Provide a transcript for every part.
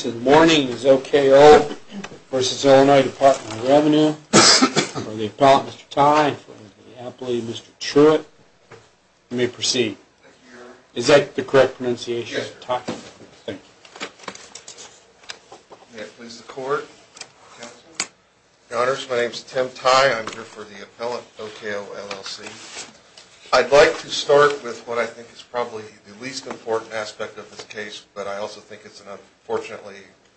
Good morning, this is OKO v. IL Dept. of Revenue. For the appellant, Mr. Tye. For the appellate, Mr. Truitt. You may proceed. Is that the correct pronunciation? Yes, sir. Thank you. My name is Tim Tye. I'm here for the appellant OKO, LLC. I'd like to start with what I think is probably the least important aspect of this case, but I also think it's unfortunately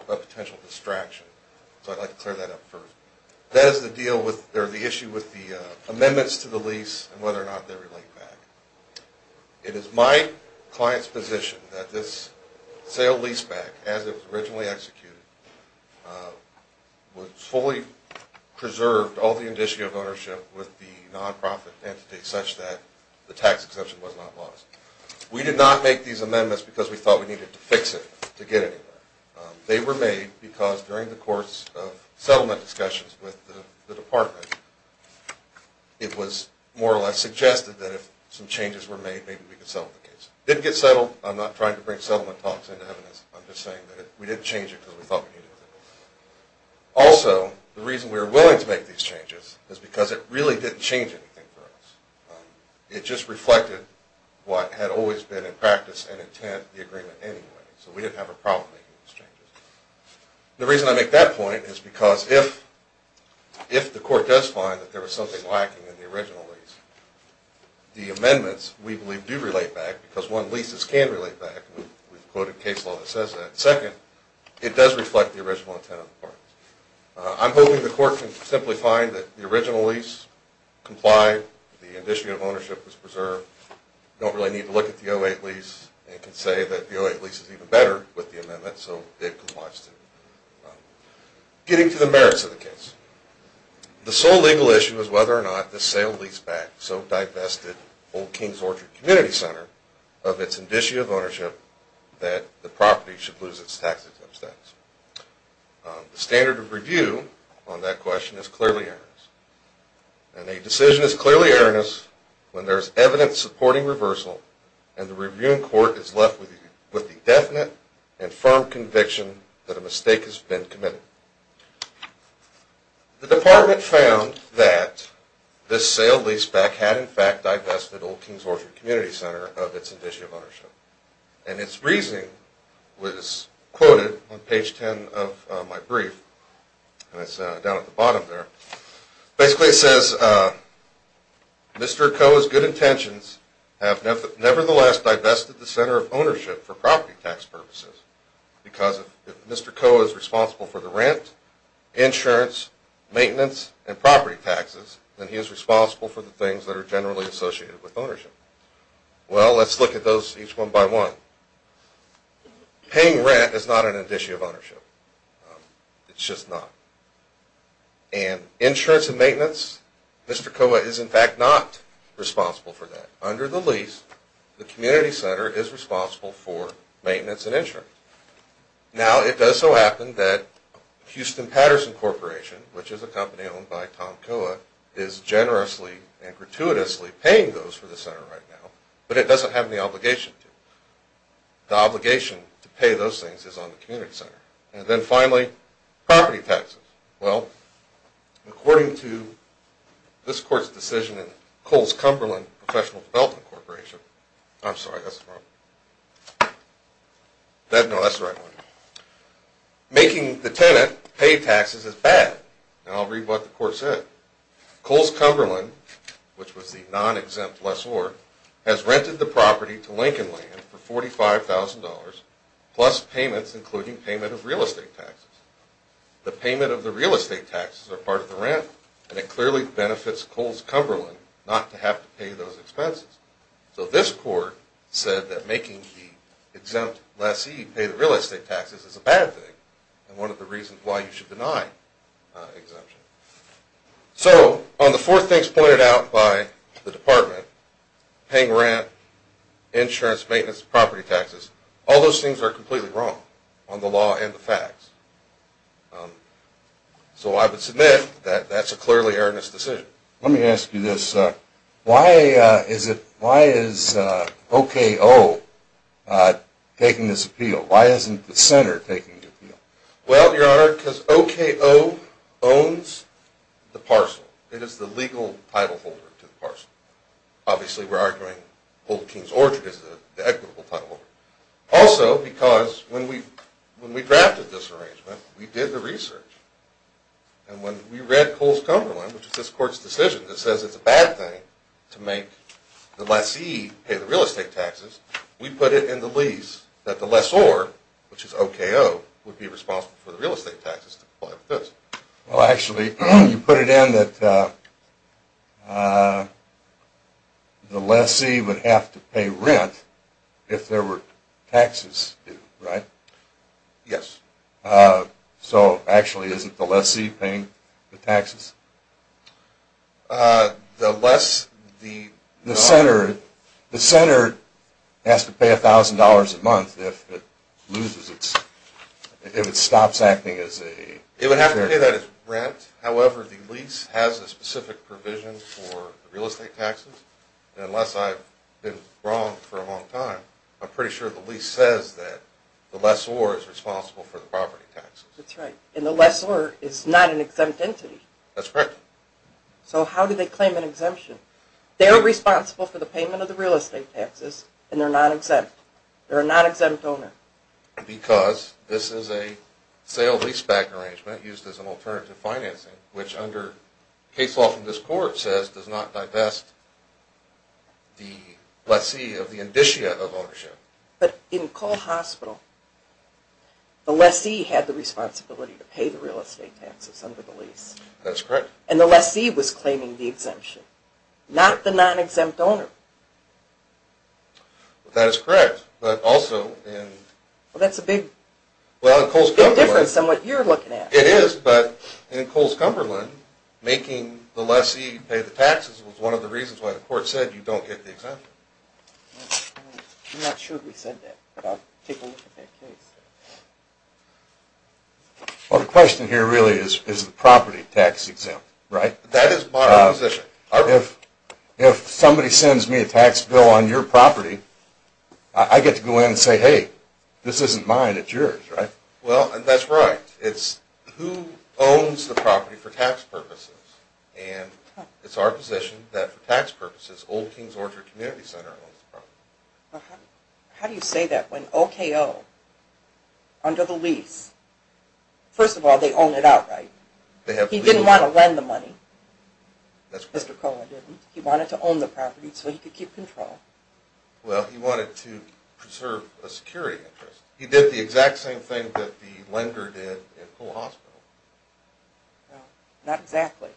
a potential distraction. So I'd like to clear that up first. That is the issue with the amendments to the lease and whether or not they relate back. It is my client's position that this sale-leaseback, as it was originally executed, fully preserved all the indicia of ownership with the non-profit entity such that the tax exemption was not lost. We did not make these amendments because we thought we needed to fix it to get anywhere. They were made because during the course of settlement discussions with the department, it was more or less suggested that if some changes were made, maybe we could settle the case. It didn't get settled. I'm not trying to bring settlement talks into evidence. I'm just saying that we didn't change it because we thought we needed to. Also, the reason we were willing to make these changes is because it really didn't change anything for us. It just reflected what had always been in practice and intent of the agreement anyway. So we didn't have a problem making these changes. The reason I make that point is because if the court does find that there was something lacking in the original lease, the amendments, we believe, do relate back because, one, leases can relate back. We've quoted case law that says that. Second, it does reflect the original intent of the parties. I'm hoping the court can simply find that the original lease complied, the indicia of ownership was preserved, don't really need to look at the 08 lease, and can say that the 08 lease is even better with the amendment, so it complies too. Getting to the merits of the case. The sole legal issue is whether or not the sale leased back so divested Old King's Orchard Community Center of its indicia of ownership that the property should lose its tax exempt status. The standard of review on that question is clearly erroneous. And a decision is clearly erroneous when there is evidence supporting reversal and the reviewing court is left with the definite and firm conviction that a mistake has been committed. The department found that this sale lease back had in fact divested Old King's Orchard Community Center of its indicia of ownership. And its reasoning was quoted on page 10 of my brief, and it's down at the bottom there. Basically it says, Mr. Koa's good intentions have nevertheless divested the center of ownership for property tax purposes. Because if Mr. Koa is responsible for the rent, insurance, maintenance, and property taxes, then he is responsible for the things that are generally associated with ownership. Well, let's look at those each one by one. Paying rent is not an indicia of ownership. It's just not. And insurance and maintenance, Mr. Koa is in fact not responsible for that. Under the lease, the community center is responsible for maintenance and insurance. Now, it does so happen that Houston Patterson Corporation, which is a company owned by Tom Koa, is generously and gratuitously paying those for the center right now, but it doesn't have any obligation to. The obligation to pay those things is on the community center. And then finally, property taxes. Well, according to this court's decision in Coles-Cumberland Professional Development Corporation, making the tenant pay taxes is bad. Now, I'll read what the court said. Coles-Cumberland, which was the non-exempt lessor, has rented the property to Lincoln Land for $45,000 plus payments, including payment of real estate taxes. The payment of the real estate taxes are part of the rent, and it clearly benefits Coles-Cumberland not to have to pay those expenses. So this court said that making the exempt lessee pay the real estate taxes is a bad thing, and one of the reasons why you should deny exemption. So on the four things pointed out by the department, paying rent, insurance, maintenance, property taxes, all those things are completely wrong on the law and the facts. So I would submit that that's a clearly erroneous decision. Let me ask you this. Why is OKO taking this appeal? Why isn't the center taking the appeal? Well, Your Honor, because OKO owns the parcel. It is the legal title holder to the parcel. Obviously, we're arguing Holder King's Orchard is the equitable title holder. Also, because when we drafted this arrangement, we did the research, and when we read Coles-Cumberland, which is this court's decision that says it's a bad thing to make the lessee pay the real estate taxes, we put it in the lease that the lessor, which is OKO, would be responsible. Well, actually, you put it in that the lessee would have to pay rent if there were taxes due, right? Yes. So actually, isn't the lessee paying the taxes? The center has to pay $1,000 a month if it stops acting as a... It would have to pay that as rent. However, the lease has a specific provision for the real estate taxes. And unless I've been wrong for a long time, I'm pretty sure the lease says that the lessor is responsible for the property taxes. That's right. And the lessor is not an exempt entity. That's correct. So how do they claim an exemption? They're responsible for the payment of the real estate taxes, and they're not exempt. They're a non-exempt owner. Because this is a sale-leaseback arrangement used as an alternative financing, which under case law from this court says does not divest the lessee of the indicia of ownership. But in Cole Hospital, the lessee had the responsibility to pay the real estate taxes under the lease. That's correct. And the lessee was claiming the exemption, not the non-exempt owner. That is correct, but also in... Well, that's a big difference in what you're looking at. It is, but in Coles-Cumberland, making the lessee pay the taxes was one of the reasons why the court said you don't get the exemption. I'm not sure we said that, but I'll take a look at that case. Well, the question here really is, is the property tax exempt, right? That is my position. If somebody sends me a tax bill on your property, I get to go in and say, hey, this isn't mine, it's yours, right? Well, that's right. It's who owns the property for tax purposes, and it's our position that for tax purposes, Old King's Orchard Community Center owns the property. How do you say that? When OKO, under the lease, first of all, they own it outright. He didn't want to lend the money. Mr. Cole didn't. He wanted to own the property so he could keep control. Well, he wanted to preserve a security interest. He did the exact same thing that the lender did in Poole Hospital. Well, not exactly.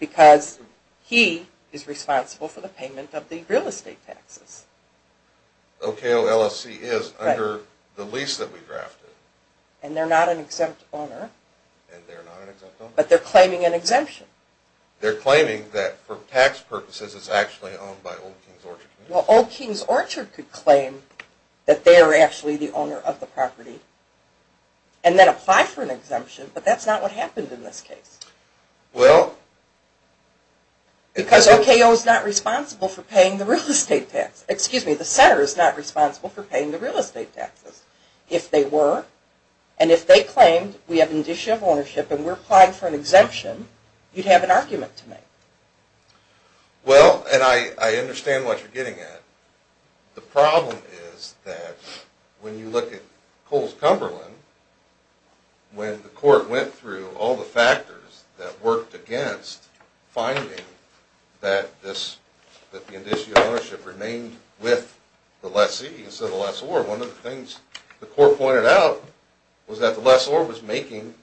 Because he is responsible for the payment of the real estate taxes. OKO LLC is under the lease that we drafted. And they're not an exempt owner. And they're not an exempt owner. But they're claiming an exemption. They're claiming that for tax purposes it's actually owned by Old King's Orchard Community Center. Well, Old King's Orchard could claim that they're actually the owner of the property and then apply for an exemption. But that's not what happened in this case. Well... Because OKO is not responsible for paying the real estate taxes. Excuse me, the center is not responsible for paying the real estate taxes. If they were, and if they claimed we have an issue of ownership and we're applying for an exemption, you'd have an argument to make. Well, and I understand what you're getting at. The problem is that when you look at Coles-Cumberland, when the court went through all the factors that worked against finding that the issue of ownership remained with the lessee instead of the lessor, one of the things the court pointed out was that the lessor was making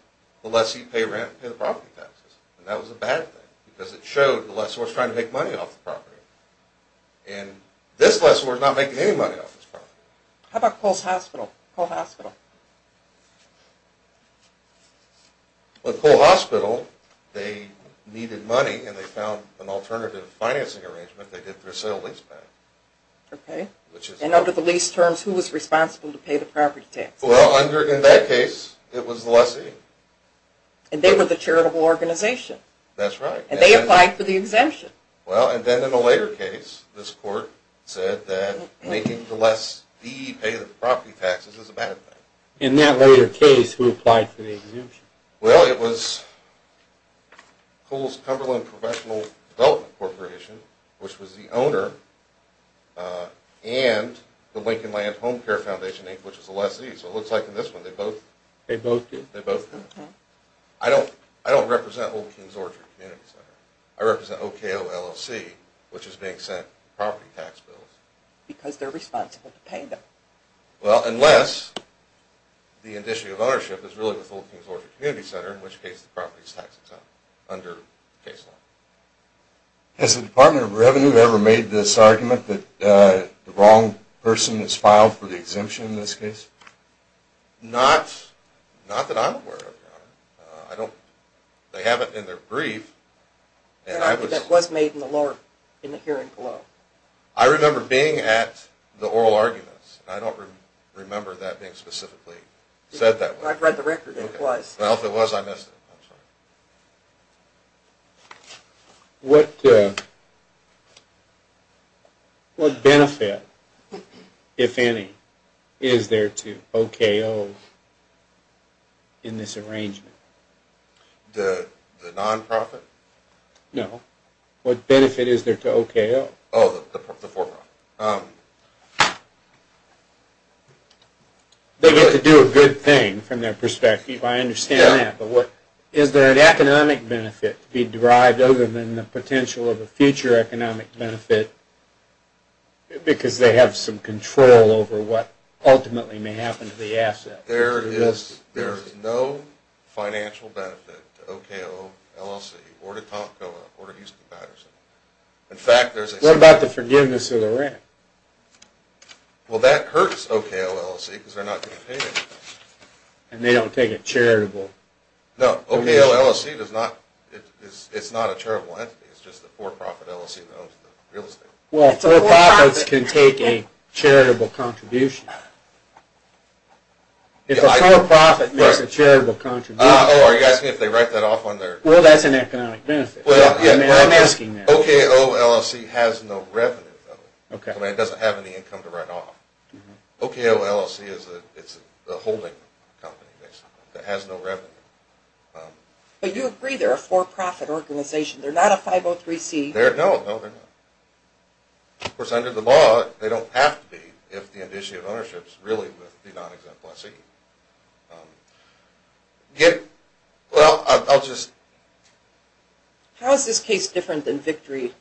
the lessee pay rent and pay the property taxes. And that was a bad thing because it showed the lessor was trying to make money off the property. And this lessor was not making any money off this property. How about Coles Hospital? Well, at Coles Hospital, they needed money and they found an alternative financing arrangement. They did their sale lease back. OK. And under the lease terms, who was responsible to pay the property taxes? Well, in that case, it was the lessee. And they were the charitable organization. That's right. And they applied for the exemption. Well, and then in a later case, this court said that making the lessee pay the property taxes is a bad thing. In that later case, who applied for the exemption? Well, it was Coles-Cumberland Professional Development Corporation, which was the owner, and the Lincoln Land Home Care Foundation Inc., which was the lessee. So it looks like in this one, they both did. I don't represent Old King's Orchard Community Center. I represent OKO LLC, which is being sent property tax bills. Because they're responsible to pay them. Well, unless the addition of ownership is really with Old King's Orchard Community Center, in which case the property is tax exempt under the case law. Has the Department of Revenue ever made this argument that the wrong person is filed for the exemption in this case? Not that I'm aware of, Your Honor. They haven't in their brief. That was made in the hearing below. I remember being at the oral arguments. I don't remember that being specifically said that way. I've read the record. It was. Well, if it was, I missed it. What benefit, if any, is there to OKO in this arrangement? The non-profit? No. What benefit is there to OKO? Oh, the for-profit. They get to do a good thing, from their perspective. I understand that. But is there an economic benefit to be derived other than the potential of a future economic benefit, because they have some control over what ultimately may happen to the asset? There is no financial benefit to OKO LLC or to Tomko or to Houston Patterson. What about the forgiveness of the rent? Well, that hurts OKO LLC because they're not going to pay anything. And they don't take a charitable contribution. No. OKO LLC is not a charitable entity. It's just a for-profit LLC that owns the real estate. Well, for-profits can take a charitable contribution. If a for-profit makes a charitable contribution. Oh, are you asking if they write that off on their… Well, that's an economic benefit. I'm asking that. OKO LLC has no revenue, though. It doesn't have any income to write off. OKO LLC is a holding company, basically, that has no revenue. But you agree they're a for-profit organization. They're not a 503C. No, no, they're not. Of course, under the law, they don't have to be, if the issue of ownership is really with the non-exemplary. Well, I'll just… How is this case different than Victory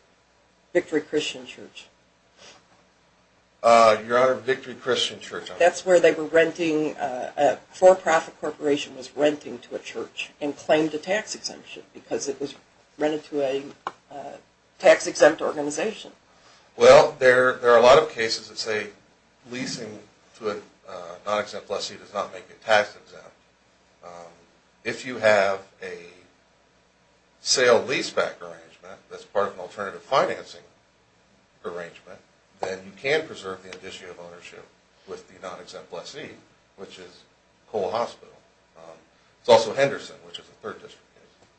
Christian Church? Your Honor, Victory Christian Church… That's where a for-profit corporation was renting to a church and claimed a tax exemption because it was rented to a tax-exempt organization. Well, there are a lot of cases that say leasing to a non-exempt lessee does not make it tax exempt. If you have a sale-leaseback arrangement that's part of an alternative financing arrangement, then you can preserve the indice of ownership with the non-exempt lessee, which is Cole Hospital. It's also Henderson, which is a third district case.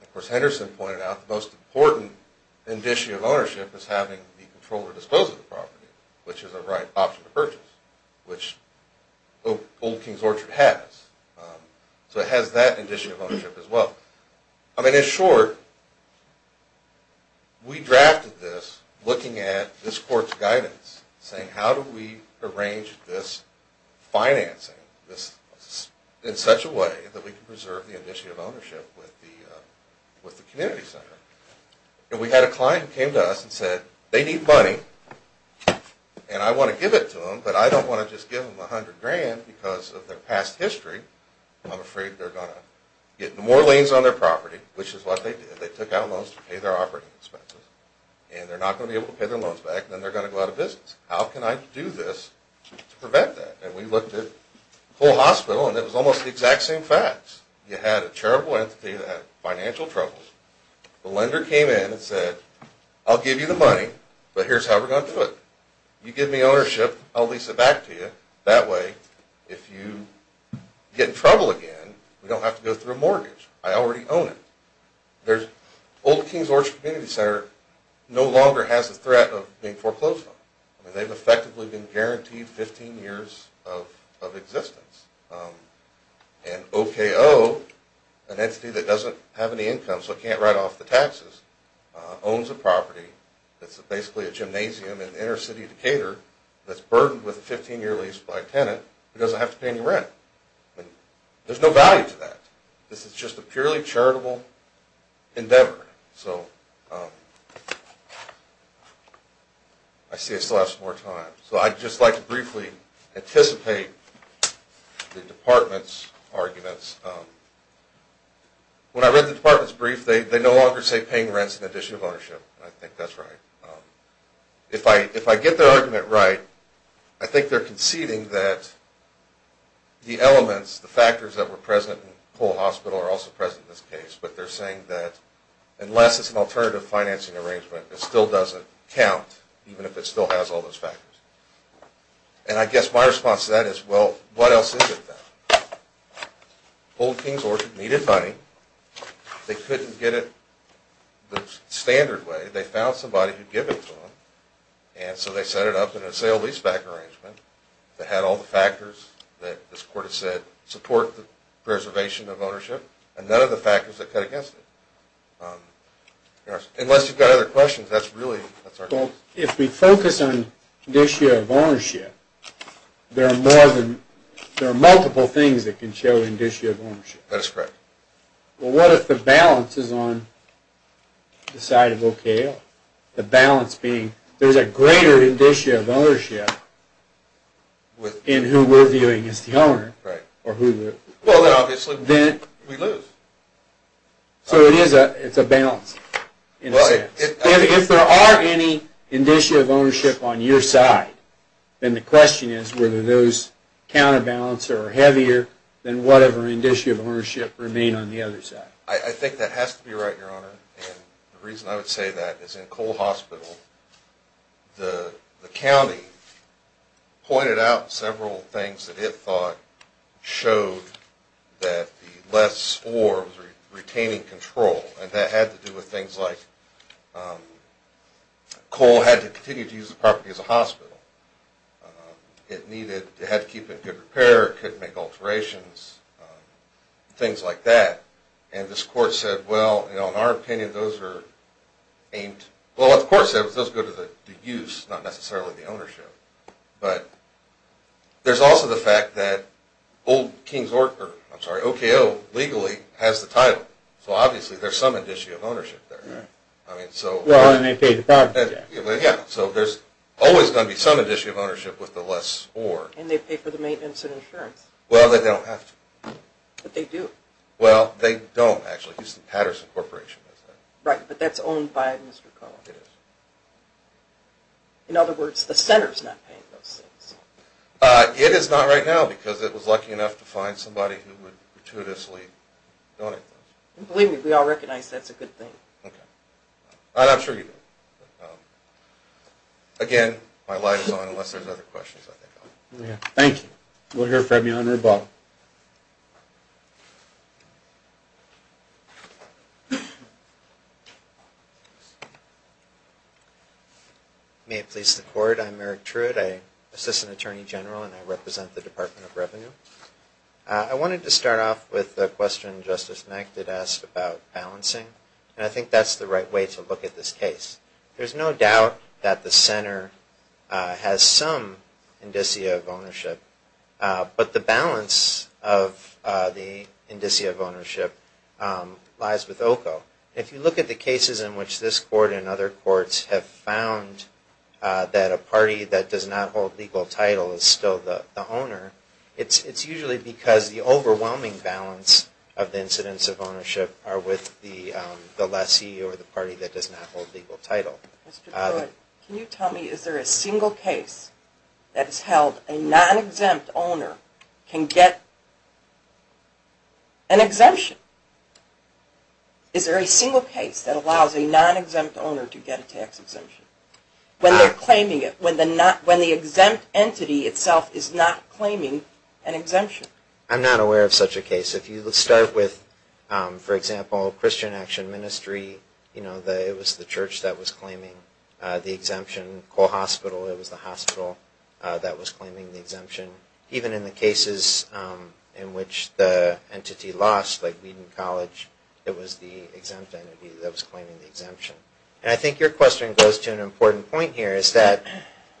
Of course, Henderson pointed out the most important indice of ownership is having the controller dispose of the property, which is a right option to purchase, which Old King's Orchard has. So it has that indice of ownership as well. I mean, in short, we drafted this looking at this Court's guidance, saying how do we arrange this financing in such a way that we can preserve the indice of ownership with the community center. And we had a client who came to us and said they need money and I want to give it to them, but I don't want to just give them $100,000 because of their past history. I'm afraid they're going to get more liens on their property, which is what they did. They took out loans to pay their operating expenses, and they're not going to be able to pay their loans back, and then they're going to go out of business. How can I do this to prevent that? And we looked at Cole Hospital, and it was almost the exact same facts. You had a charitable entity that had financial troubles. The lender came in and said, I'll give you the money, but here's how we're going to do it. You give me ownership, I'll lease it back to you. That way, if you get in trouble again, we don't have to go through a mortgage. I already own it. Old Kings Orchard Community Center no longer has the threat of being foreclosed on. They've effectively been guaranteed 15 years of existence. And OKO, an entity that doesn't have any income so it can't write off the taxes, owns a property that's basically a gymnasium in inner city of Decatur that's burdened with a 15-year lease by a tenant who doesn't have to pay any rent. There's no value to that. This is just a purely charitable endeavor. So I see I still have some more time. So I'd just like to briefly anticipate the department's arguments. When I read the department's brief, they no longer say paying rent is an addition of ownership. I think that's right. If I get their argument right, I think they're conceding that the elements, the factors that were present in Cole Hospital are also present in this case. But they're saying that unless it's an alternative financing arrangement, it still doesn't count, even if it still has all those factors. And I guess my response to that is, well, what else is it then? Old Kings Orchard needed money. They couldn't get it the standard way. They found somebody who'd give it to them. And so they set it up in a sale-leaseback arrangement that had all the factors that this court has said support the preservation of ownership, and none of the factors that cut against it. Unless you've got other questions, that's really our case. Well, if we focus on the issue of ownership, there are multiple things that can show an issue of ownership. That is correct. Well, what if the balance is on the side of OKO? The balance being there's a greater indicia of ownership in who we're viewing as the owner. Well, then obviously we lose. So it's a balance, in a sense. If there are any indicia of ownership on your side, then the question is whether those counterbalance or are heavier than whatever indicia of ownership remain on the other side. I think that has to be right, Your Honor. And the reason I would say that is in Cole Hospital, the county pointed out several things that it thought showed that the less or was retaining control. And that had to do with things like Cole had to continue to use the property as a hospital. It had to keep in good repair. It couldn't make alterations, things like that. And this court said, well, in our opinion, those are aimed... Well, what the court said was those go to the use, not necessarily the ownership. But there's also the fact that Old King's Orchard, I'm sorry, OKO legally has the title. So obviously there's some indicia of ownership there. Well, and they pay the property tax. Yeah, so there's always going to be some indicia of ownership with the less or. And they pay for the maintenance and insurance. Well, they don't have to. But they do. Well, they don't actually. Houston Patterson Corporation does that. Right, but that's owned by Mr. Cole. It is. In other words, the center's not paying those things. It is not right now because it was lucky enough to find somebody who would gratuitously donate those. Believe me, we all recognize that's a good thing. OK. And I'm sure you do. Again, my light is on unless there's other questions. Thank you. We'll hear from you on rebuttal. May it please the Court, I'm Eric Truitt. I assist an attorney general and I represent the Department of Revenue. I wanted to start off with a question Justice Mack did ask about balancing. And I think that's the right way to look at this case. There's no doubt that the center has some indicia of ownership. But the balance of the indicia of ownership lies with OCO. If you look at the cases in which this court and other courts have found that a party that does not hold legal title is still the owner, it's usually because the overwhelming balance of the incidents of ownership are with the lessee or the party that does not hold legal title. Mr. Truitt, can you tell me is there a single case that has held a non-exempt owner can get an exemption? Is there a single case that allows a non-exempt owner to get a tax exemption? When they're claiming it, when the exempt entity itself is not claiming an exemption. I'm not aware of such a case. If you start with, for example, Christian Action Ministry, it was the church that was claiming the exemption. Cole Hospital, it was the hospital that was claiming the exemption. Even in the cases in which the entity lost, like Wheaton College, it was the exempt entity that was claiming the exemption. And I think your question goes to an important point here, is that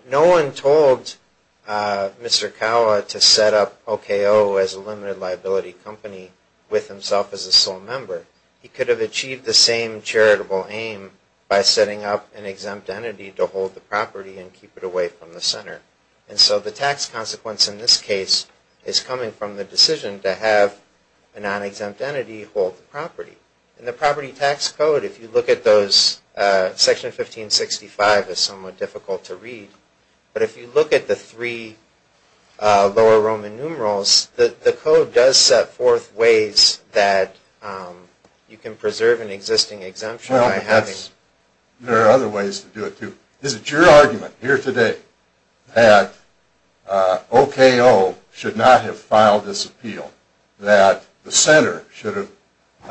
no one told Mr. Kawa to set up OKO as a limited liability company with himself as a sole member. He could have achieved the same charitable aim by setting up an exempt entity to hold the property and keep it away from the center. And so the tax consequence in this case is coming from the decision to have a non-exempt entity hold the property. And the property tax code, if you look at those, Section 1565 is somewhat difficult to read. But if you look at the three lower Roman numerals, the code does set forth ways that you can preserve an existing exemption by having... Well, there are other ways to do it, too. Is it your argument here today that OKO should not have filed this appeal? That the center should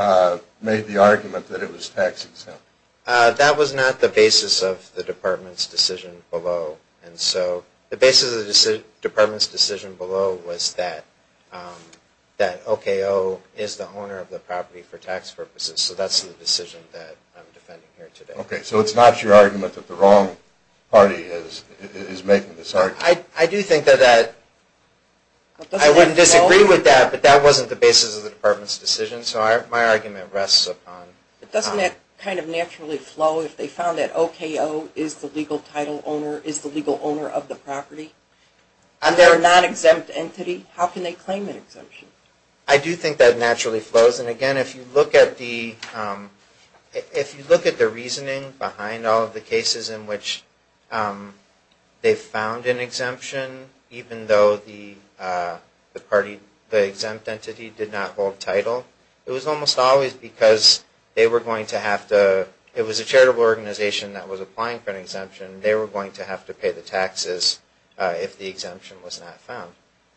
have made the argument that it was tax exempt? That was not the basis of the department's decision below. And so the basis of the department's decision below was that OKO is the owner of the property for tax purposes. So that's the decision that I'm defending here today. Okay, so it's not your argument that the wrong party is making this argument? I do think that that... I would disagree with that, but that wasn't the basis of the department's decision. So my argument rests upon... But doesn't that kind of naturally flow if they found that OKO is the legal owner of the property? And they're a non-exempt entity. How can they claim an exemption? I do think that naturally flows. And again, if you look at the... If you look at the reasoning behind all of the cases in which they found an exemption, even though the exempt entity did not hold title, it was almost always because they were going to have to... It was a charitable organization that was applying for an exemption. They were going to have to pay the taxes if the exemption was not found.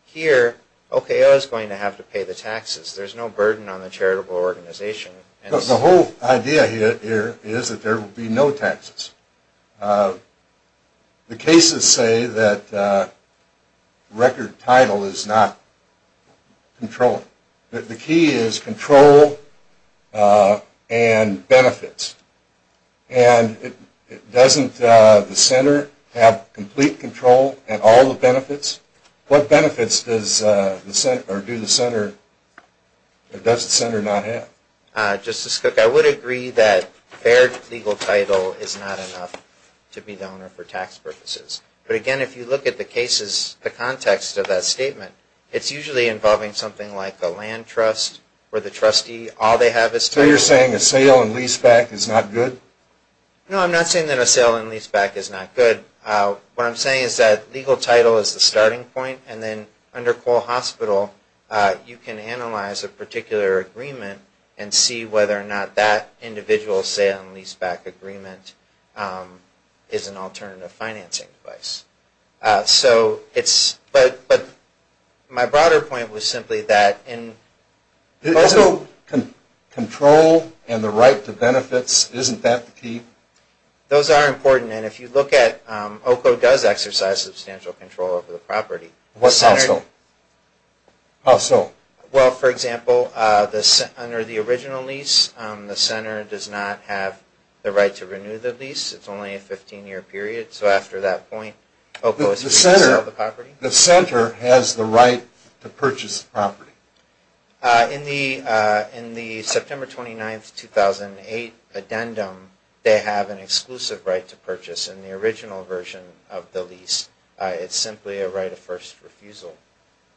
Here, OKO is going to have to pay the taxes. There's no burden on the charitable organization. The whole idea here is that there will be no taxes. The cases say that record title is not controlled. The key is control and benefits. And doesn't the center have complete control and all the benefits? What benefits does the center... or do the center... does the center not have? Justice Cook, I would agree that fair legal title is not enough to be the owner for tax purposes. But again, if you look at the cases, the context of that statement, it's usually involving something like a land trust where the trustee... So you're saying a sale and lease back is not good? No, I'm not saying that a sale and lease back is not good. What I'm saying is that legal title is the starting point. And then under Cole Hospital, you can analyze a particular agreement and see whether or not that individual sale and lease back agreement is an alternative financing device. So it's... but my broader point was simply that in... So control and the right to benefits, isn't that the key? Those are important. And if you look at... OCO does exercise substantial control over the property. How so? Well, for example, under the original lease, the center does not have the right to renew the lease. It's only a 15-year period. So after that point, OCO is... The center has the right to purchase the property. In the September 29, 2008 addendum, they have an exclusive right to purchase in the original version of the lease. It's simply a right of first refusal.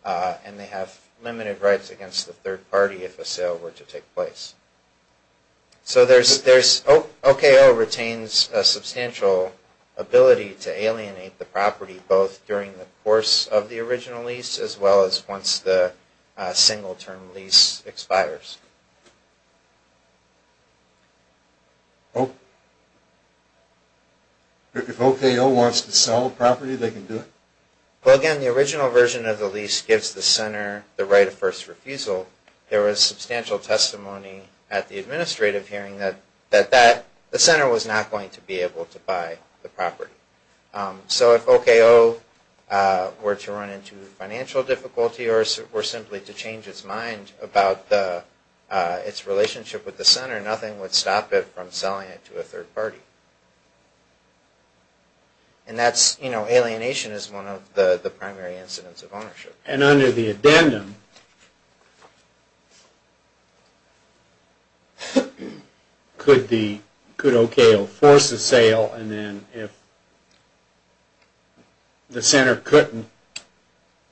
And they have limited rights against the third party if a sale were to take place. So there's... OCO retains a substantial ability to alienate the property, both during the course of the original lease as well as once the single-term lease expires. If OCO wants to sell the property, they can do it? Well, again, the original version of the lease gives the center the right of first refusal. There was substantial testimony at the administrative hearing that that... the center was not going to be able to buy the property. So if OCO were to run into financial difficulty or were simply to change its mind about its relationship with the center, nothing would stop it from selling it to a third party. And that's, you know, alienation is one of the primary incidents of ownership. And under the addendum, could OCO force a sale and then if the center couldn't...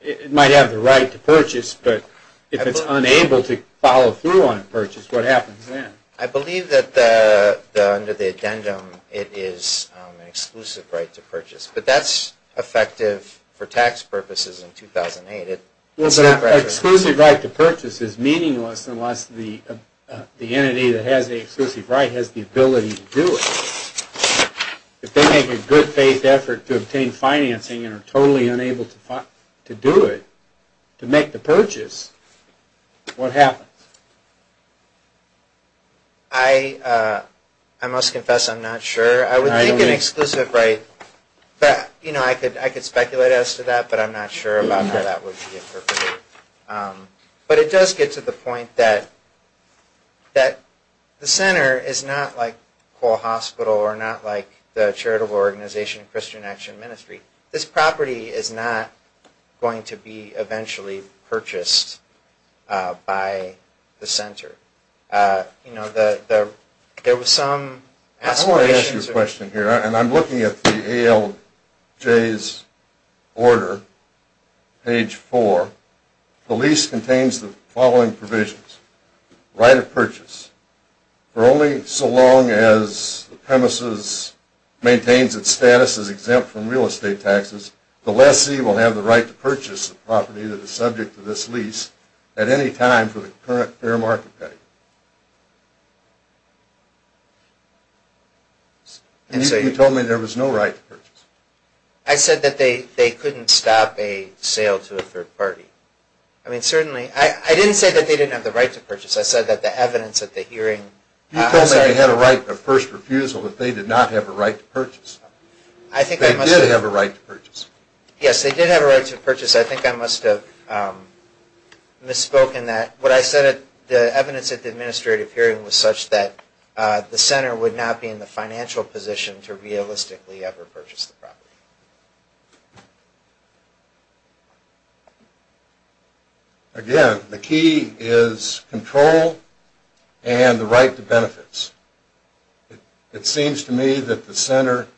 it might have the right to purchase, but if it's unable to follow through on a purchase, what happens then? I believe that under the addendum it is an exclusive right to purchase. But that's effective for tax purposes in 2008. Well, but an exclusive right to purchase is meaningless unless the entity that has the exclusive right has the ability to do it. If they make a good faith effort to obtain financing and are totally unable to do it, to make the purchase, what happens? I must confess I'm not sure. I would think an exclusive right... I could speculate as to that, but I'm not sure about how that would be interpreted. But it does get to the point that the center is not like Coal Hospital or not like the Charitable Organization of Christian Action Ministry. This property is not going to be eventually purchased by the center. There was some aspirations... I'm looking at the ALJ's order, page 4. The lease contains the following provisions. Right of purchase. For only so long as the premises maintains its status as exempt from real estate taxes, the lessee will have the right to purchase the property that is subject to this lease at any time for the current fair market value. You told me there was no right to purchase. I said that they couldn't stop a sale to a third party. I mean, certainly... I didn't say that they didn't have the right to purchase. I said that the evidence at the hearing... You told me they had a right of first refusal, but they did not have a right to purchase. They did have a right to purchase. Yes, they did have a right to purchase. What I said, the evidence at the hearing, was such that the center would not be in the financial position to realistically ever purchase the property. Again, the key is control and the right to benefits. It seems to me that the center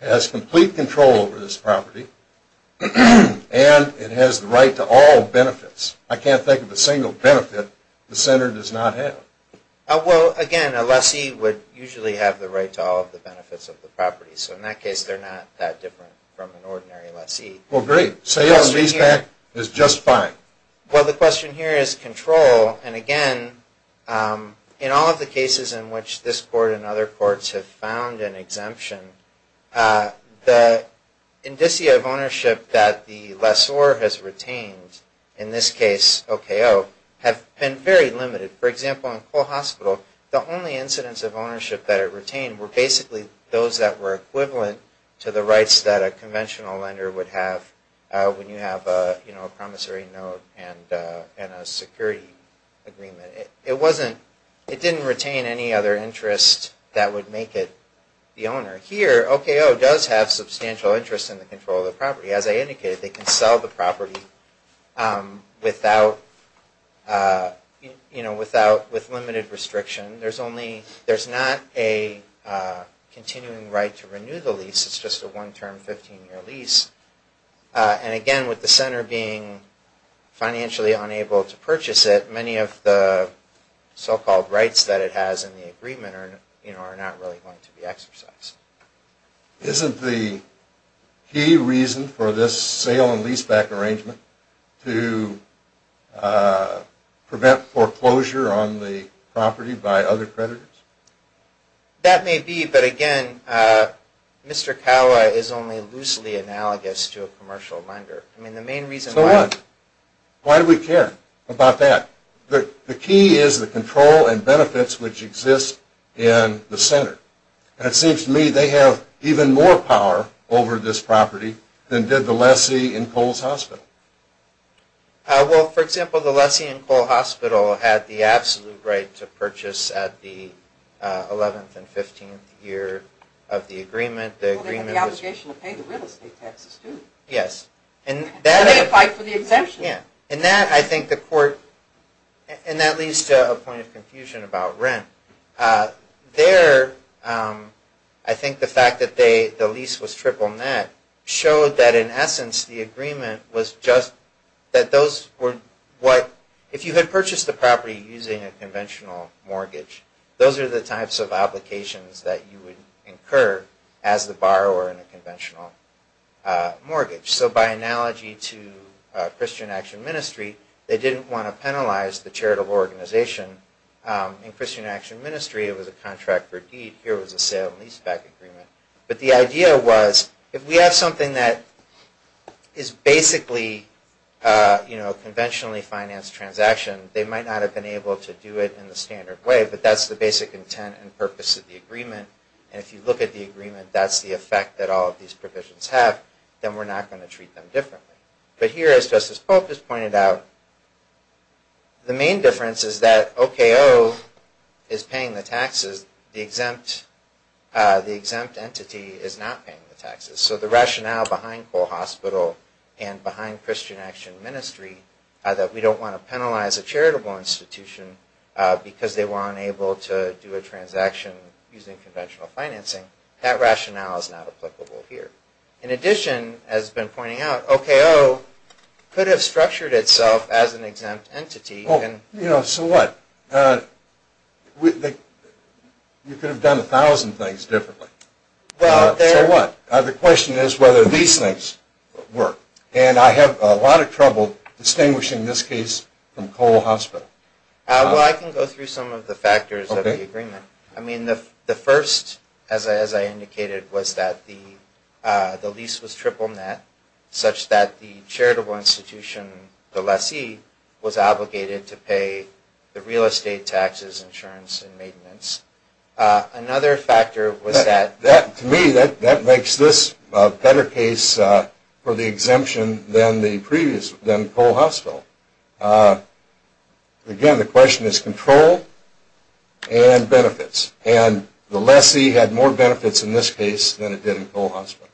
has complete control over this property and it has the right to all benefits. I can't think of a single benefit the center does not have. Again, a lessee would usually have the right to all the benefits of the property. In that case, they're not that different from an ordinary lessee. Great. Sale and lease back is just fine. The question here is control. Again, in all of the cases in which this court and other courts have found an exemption, the indicia of ownership that the lessor has retained, in this case OKO, have been very limited. For example, in Cole Hospital, the only incidents of ownership that it retained were basically those that were equivalent to the rights that a conventional lender would have when you have a promissory note and a security agreement. It didn't retain any other interest that would make it the owner. Here, OKO does have substantial interest in the control of the property. As I indicated, they can sell the property with limited restriction. There's not a continuing right to renew the lease. It's just a one-term 15-year lease. Again, with the center being financially unable to purchase it, many of the so-called rights that it has in the agreement are not really going to be exercised. Isn't the key reason for this sale and lease back arrangement to prevent foreclosure on the property by other creditors? That may be, but again, Mr. Kawa is only loosely analogous to a commercial lender. Why do we care about that? The key is the control and benefits which exist in the center. It seems to me they have even more power over this property than did the lessee in Cole's Hospital. For example, the lessee in Cole Hospital had the absolute right to purchase at the 11th and 15th year of the agreement. They had the obligation to pay the real estate taxes, too. They applied for the exemption. That leads to a point of confusion about rent. I think the fact that the lease was triple net showed that in essence, the agreement was just that those were what, if you had purchased the property using a conventional mortgage, those are the types of obligations that you would incur as the borrower in a conventional mortgage. By analogy to Christian Action Ministry, they didn't want to penalize the charitable organization. In Christian Action Ministry, it was a contract for deed. Here it was a sale and lease back agreement. The idea was if we have something that is basically a conventionally financed transaction, they might not have been able to do it in the standard way, but that's the basic intent and purpose of the agreement. If you look at the agreement, that's the effect that all of these provisions have, then we're not going to treat them differently. Here, as Justice Polk has pointed out, the main difference is that OKO is paying the taxes, the exempt entity is not paying the taxes. The rationale behind Cole Hospital and behind Christian Action Ministry is that we don't want to penalize a charitable institution because they were unable to do a transaction using conventional financing. That rationale is not applicable here. In addition, as has been pointed out, OKO could have structured itself as an exempt entity. So what? You could have done a thousand things differently. So what? The question is whether these things work. And I have a lot of trouble distinguishing this case from Cole Hospital. Well, I can go through some of the factors of the agreement. The first, as I indicated, was that the lease was triple net, such that the charitable institution, the lessee, was obligated to pay the real estate taxes, insurance, and maintenance. Another factor was that... To me, that makes this a better case for the exemption than Cole Hospital. Again, the question is control and benefits. And the lessee had more benefits in this case than it did in Cole Hospital.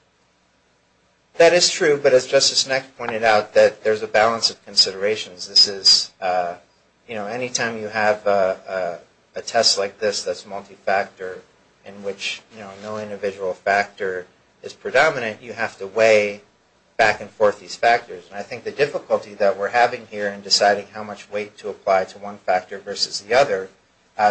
That is true, but as Justice Neck pointed out, there's a balance of considerations. Anytime you have a test like this that's multi-factor, in which no individual factor is predominant, you have to weigh back and forth these factors. And I think the difficulty that we're having here in deciding how much weight to apply to one factor versus the other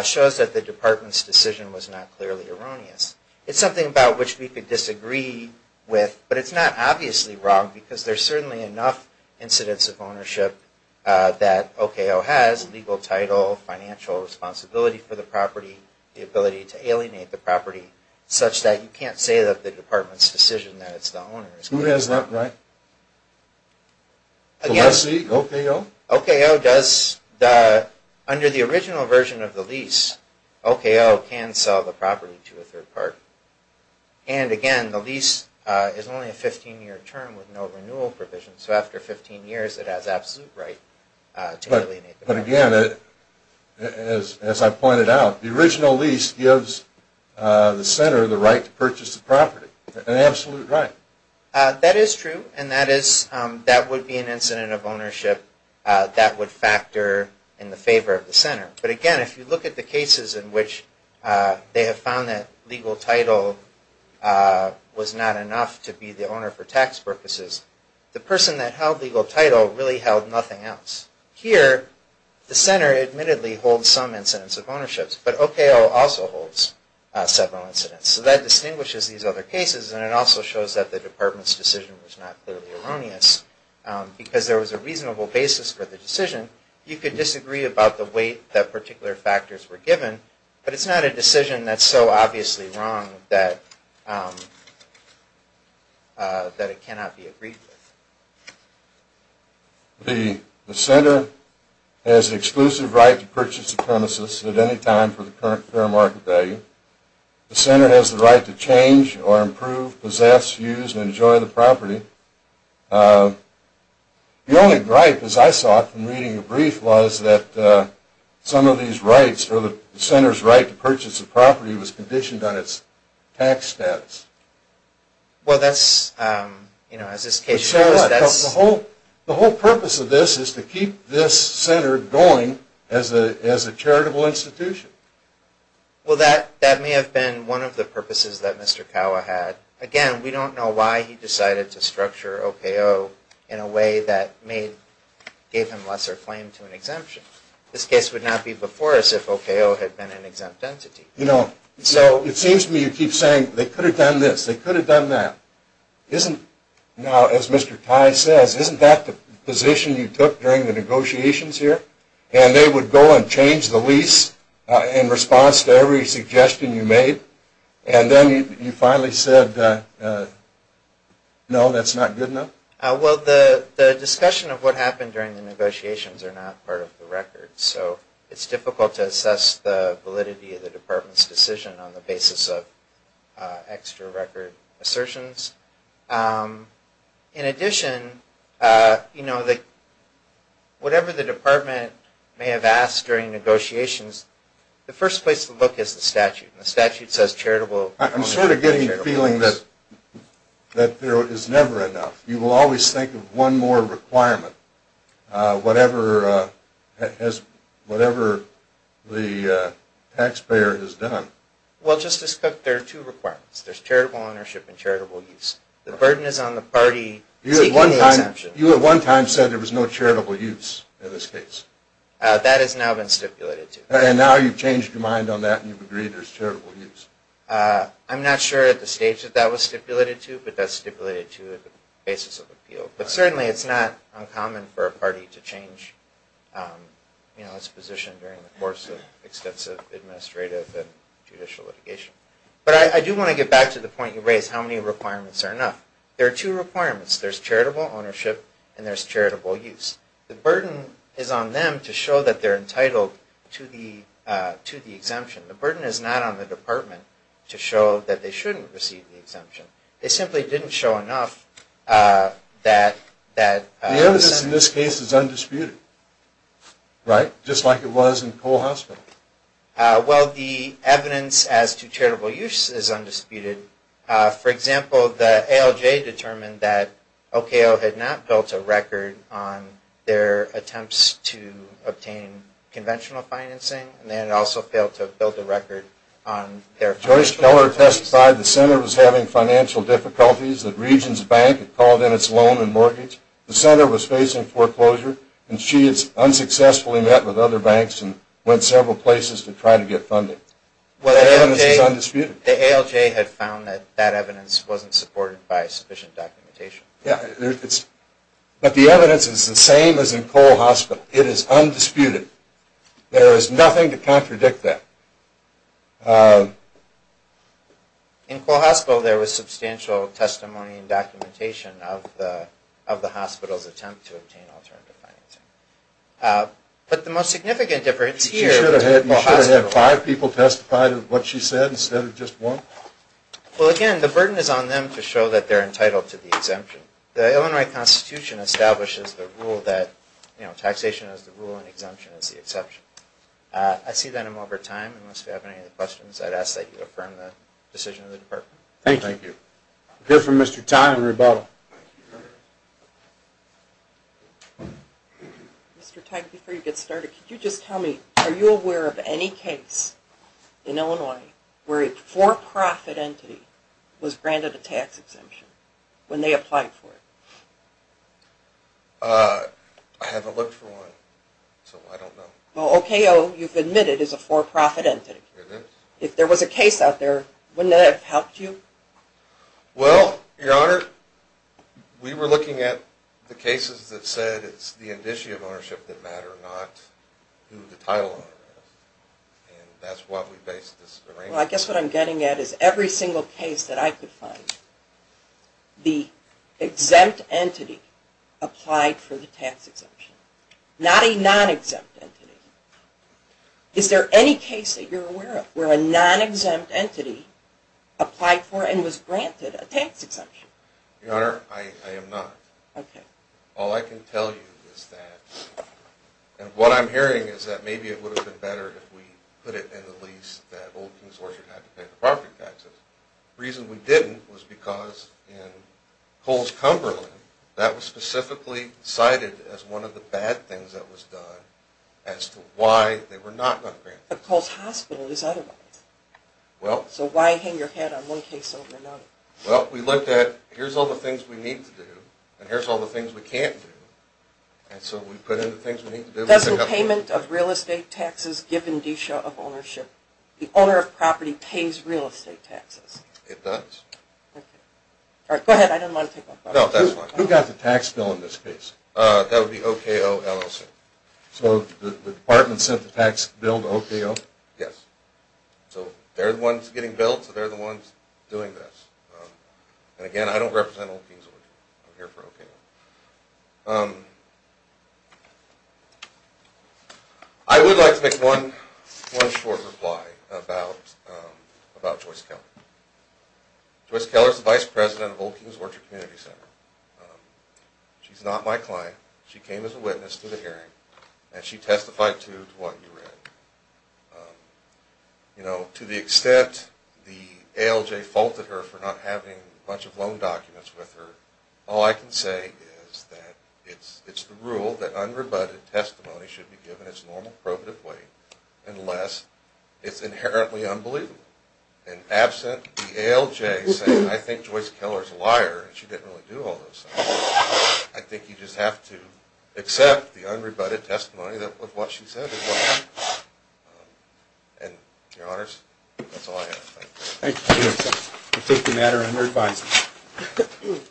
shows that the Department's decision was not clearly erroneous. It's something about which we could disagree with, but it's not obviously wrong because there's certainly enough incidents of ownership that OKO has, legal title, financial responsibility for the property, the ability to alienate the property, such that you can't say that the Department's decision that it's the owner... Who has that right? Again... The lessee, OKO? OKO does... Under the original version of the lease, OKO can sell the property to a third party. And again, the lease is only a 15-year term with no renewal provisions, so after 15 years, it has absolute right to alienate the property. But again, as I pointed out, the original lease gives the center the right to purchase the property. An absolute right. That is true, and that would be an incident of ownership that would factor in the favor of the center. But again, if you look at the cases in which they have found that legal title was not enough to be the owner for tax purposes, the person that held legal title really held nothing else. Here, the center admittedly holds some incidents of ownership, but OKO also holds several incidents. So that distinguishes these other cases, and it also shows that the Department's decision was not clearly erroneous, because there was a reasonable basis for the decision. You could disagree about the weight that particular factors were given, but it's not a decision that's so obviously wrong that it cannot be agreed with. The center has the exclusive right to purchase the premises at any time for the current fair market value. The center has the right to change or improve, possess, use, and enjoy the property. The only gripe, as I saw it from reading the brief, was that some of these rights, or the center's right to purchase the property, was conditioned on its tax status. Well, that's... The whole purpose of this is to keep this center going as a charitable institution. Well, that may have been one of the purposes that Mr. Kawa had. Again, we don't know why he decided to structure OKO in a way that gave him lesser claim to an exemption. This case would not be before us if OKO had been an exempt entity. It seems to me you keep saying, they could have done this, they could have done that. Now, as Mr. Tai says, isn't that the position you took during the negotiations here? And they would go and change the lease in response to every suggestion you made? And then you finally said, no, that's not good enough? Well, the discussion of what happened during the negotiations are not part of the record, so it's difficult to assess the validity of the department's decision on the basis of extra record assertions. In addition, whatever the department may have asked during negotiations, the first place to look is the statute. The statute says charitable... I'm sort of getting the feeling that there is never enough. You will always think of one more requirement. Whatever the taxpayer has done. Well, Justice Cook, there are two requirements. There's charitable ownership and charitable use. The burden is on the party taking the exemption. You at one time said there was no charitable use in this case. That has now been stipulated to. And now you've changed your mind on that and you've agreed there's charitable use. I'm not sure at the stage that that was stipulated to, but that's stipulated to at the basis of appeal. But certainly it's not uncommon for a party to change its position during the course of extensive administrative and judicial litigation. But I do want to get back to the point you raised, how many requirements are enough. There are two requirements. There's charitable ownership and there's charitable use. The burden is on them to show that they're entitled to the exemption. The burden is not on the department to show that they shouldn't receive the exemption. They simply didn't show enough that... The evidence in this case is undisputed. Right? Just like it was in Cole Hospital. Well, the evidence as to charitable use is undisputed. For example, the ALJ determined that OKO had not built a record on their attempts to obtain conventional financing and they had also failed to build a record on their... Joyce Keller testified the center was having financial difficulties. The region's bank had called in its loan and mortgage. The center was facing foreclosure and she had unsuccessfully met with other banks and went several places to try to get funding. That evidence is undisputed. The ALJ had found that that evidence wasn't supported by sufficient documentation. Yeah. But the evidence is the same as in Cole Hospital. It is undisputed. There is nothing to contradict that. In Cole Hospital there was substantial testimony and documentation of the hospital's attempt to obtain alternative financing. But the most significant difference here... You should have had five people testify to what she said instead of just one. Well, again, the burden is on them to show that they're entitled to the exemption. The Illinois Constitution establishes the rule that taxation is the rule and exemption is the exception. I see that I'm over time. Unless you have any other questions, I'd ask that you affirm the decision of the department. Thank you. We'll hear from Mr. Tye in rebuttal. Mr. Tye, before you get started, could you just tell me, are you aware of any case in Illinois where a for-profit entity was granted a tax exemption when they applied for it? I haven't looked for one, so I don't know. Well, OKO, you've admitted, is a for-profit entity. It is. If there was a case out there, wouldn't that have helped you? Well, Your Honor, we were looking at the cases that said it's the indicia of ownership that matter, not who the title owner is. And that's what we based this arrangement on. Well, I guess what I'm getting at is every single case that I could find, the exempt entity applied for the tax exemption, not a non-exempt entity. Is there any case that you're aware of where a non-exempt entity applied for and was granted a tax exemption? Your Honor, I am not. OK. All I can tell you is that, and what I'm hearing is that maybe it would have been better if we put it in the lease that Old King's Orchard had to pay the property taxes. The reason we didn't was because in Coles-Cumberland, that was specifically cited as one of the bad things that was done as to why they were not going to grant it. But Coles Hospital is otherwise. So why hang your head on one case over another? Well, we looked at, here's all the things we need to do and here's all the things we can't do, and so we put in the things we need to do. Doesn't payment of real estate taxes give indicia of ownership? The owner of property pays real estate taxes. It does. Go ahead, I didn't want to take my question. Who got the tax bill in this case? That would be OKO LLC. So the department sent the tax bill to OKO? Yes. So they're the ones getting billed, so they're the ones doing this. And again, I don't represent Old King's Orchard. I'm here for OKO. I would like to make one short reply about Joyce Keller. Joyce Keller is the vice president of Old King's Orchard Community Center. She's not my client. She came as a witness to the hearing, and she testified to what you read. You know, to the extent the ALJ faulted her for not having a bunch of loan documents with her, all I can say is that it's the rule that unrebutted testimony should be given its normal probative way unless it's inherently unbelievable. And absent the ALJ saying, I think Joyce Keller's a liar, and she didn't really do all those things, I think you just have to accept the unrebutted testimony of what she said. Thank you. Thank you. I take the matter under advisement.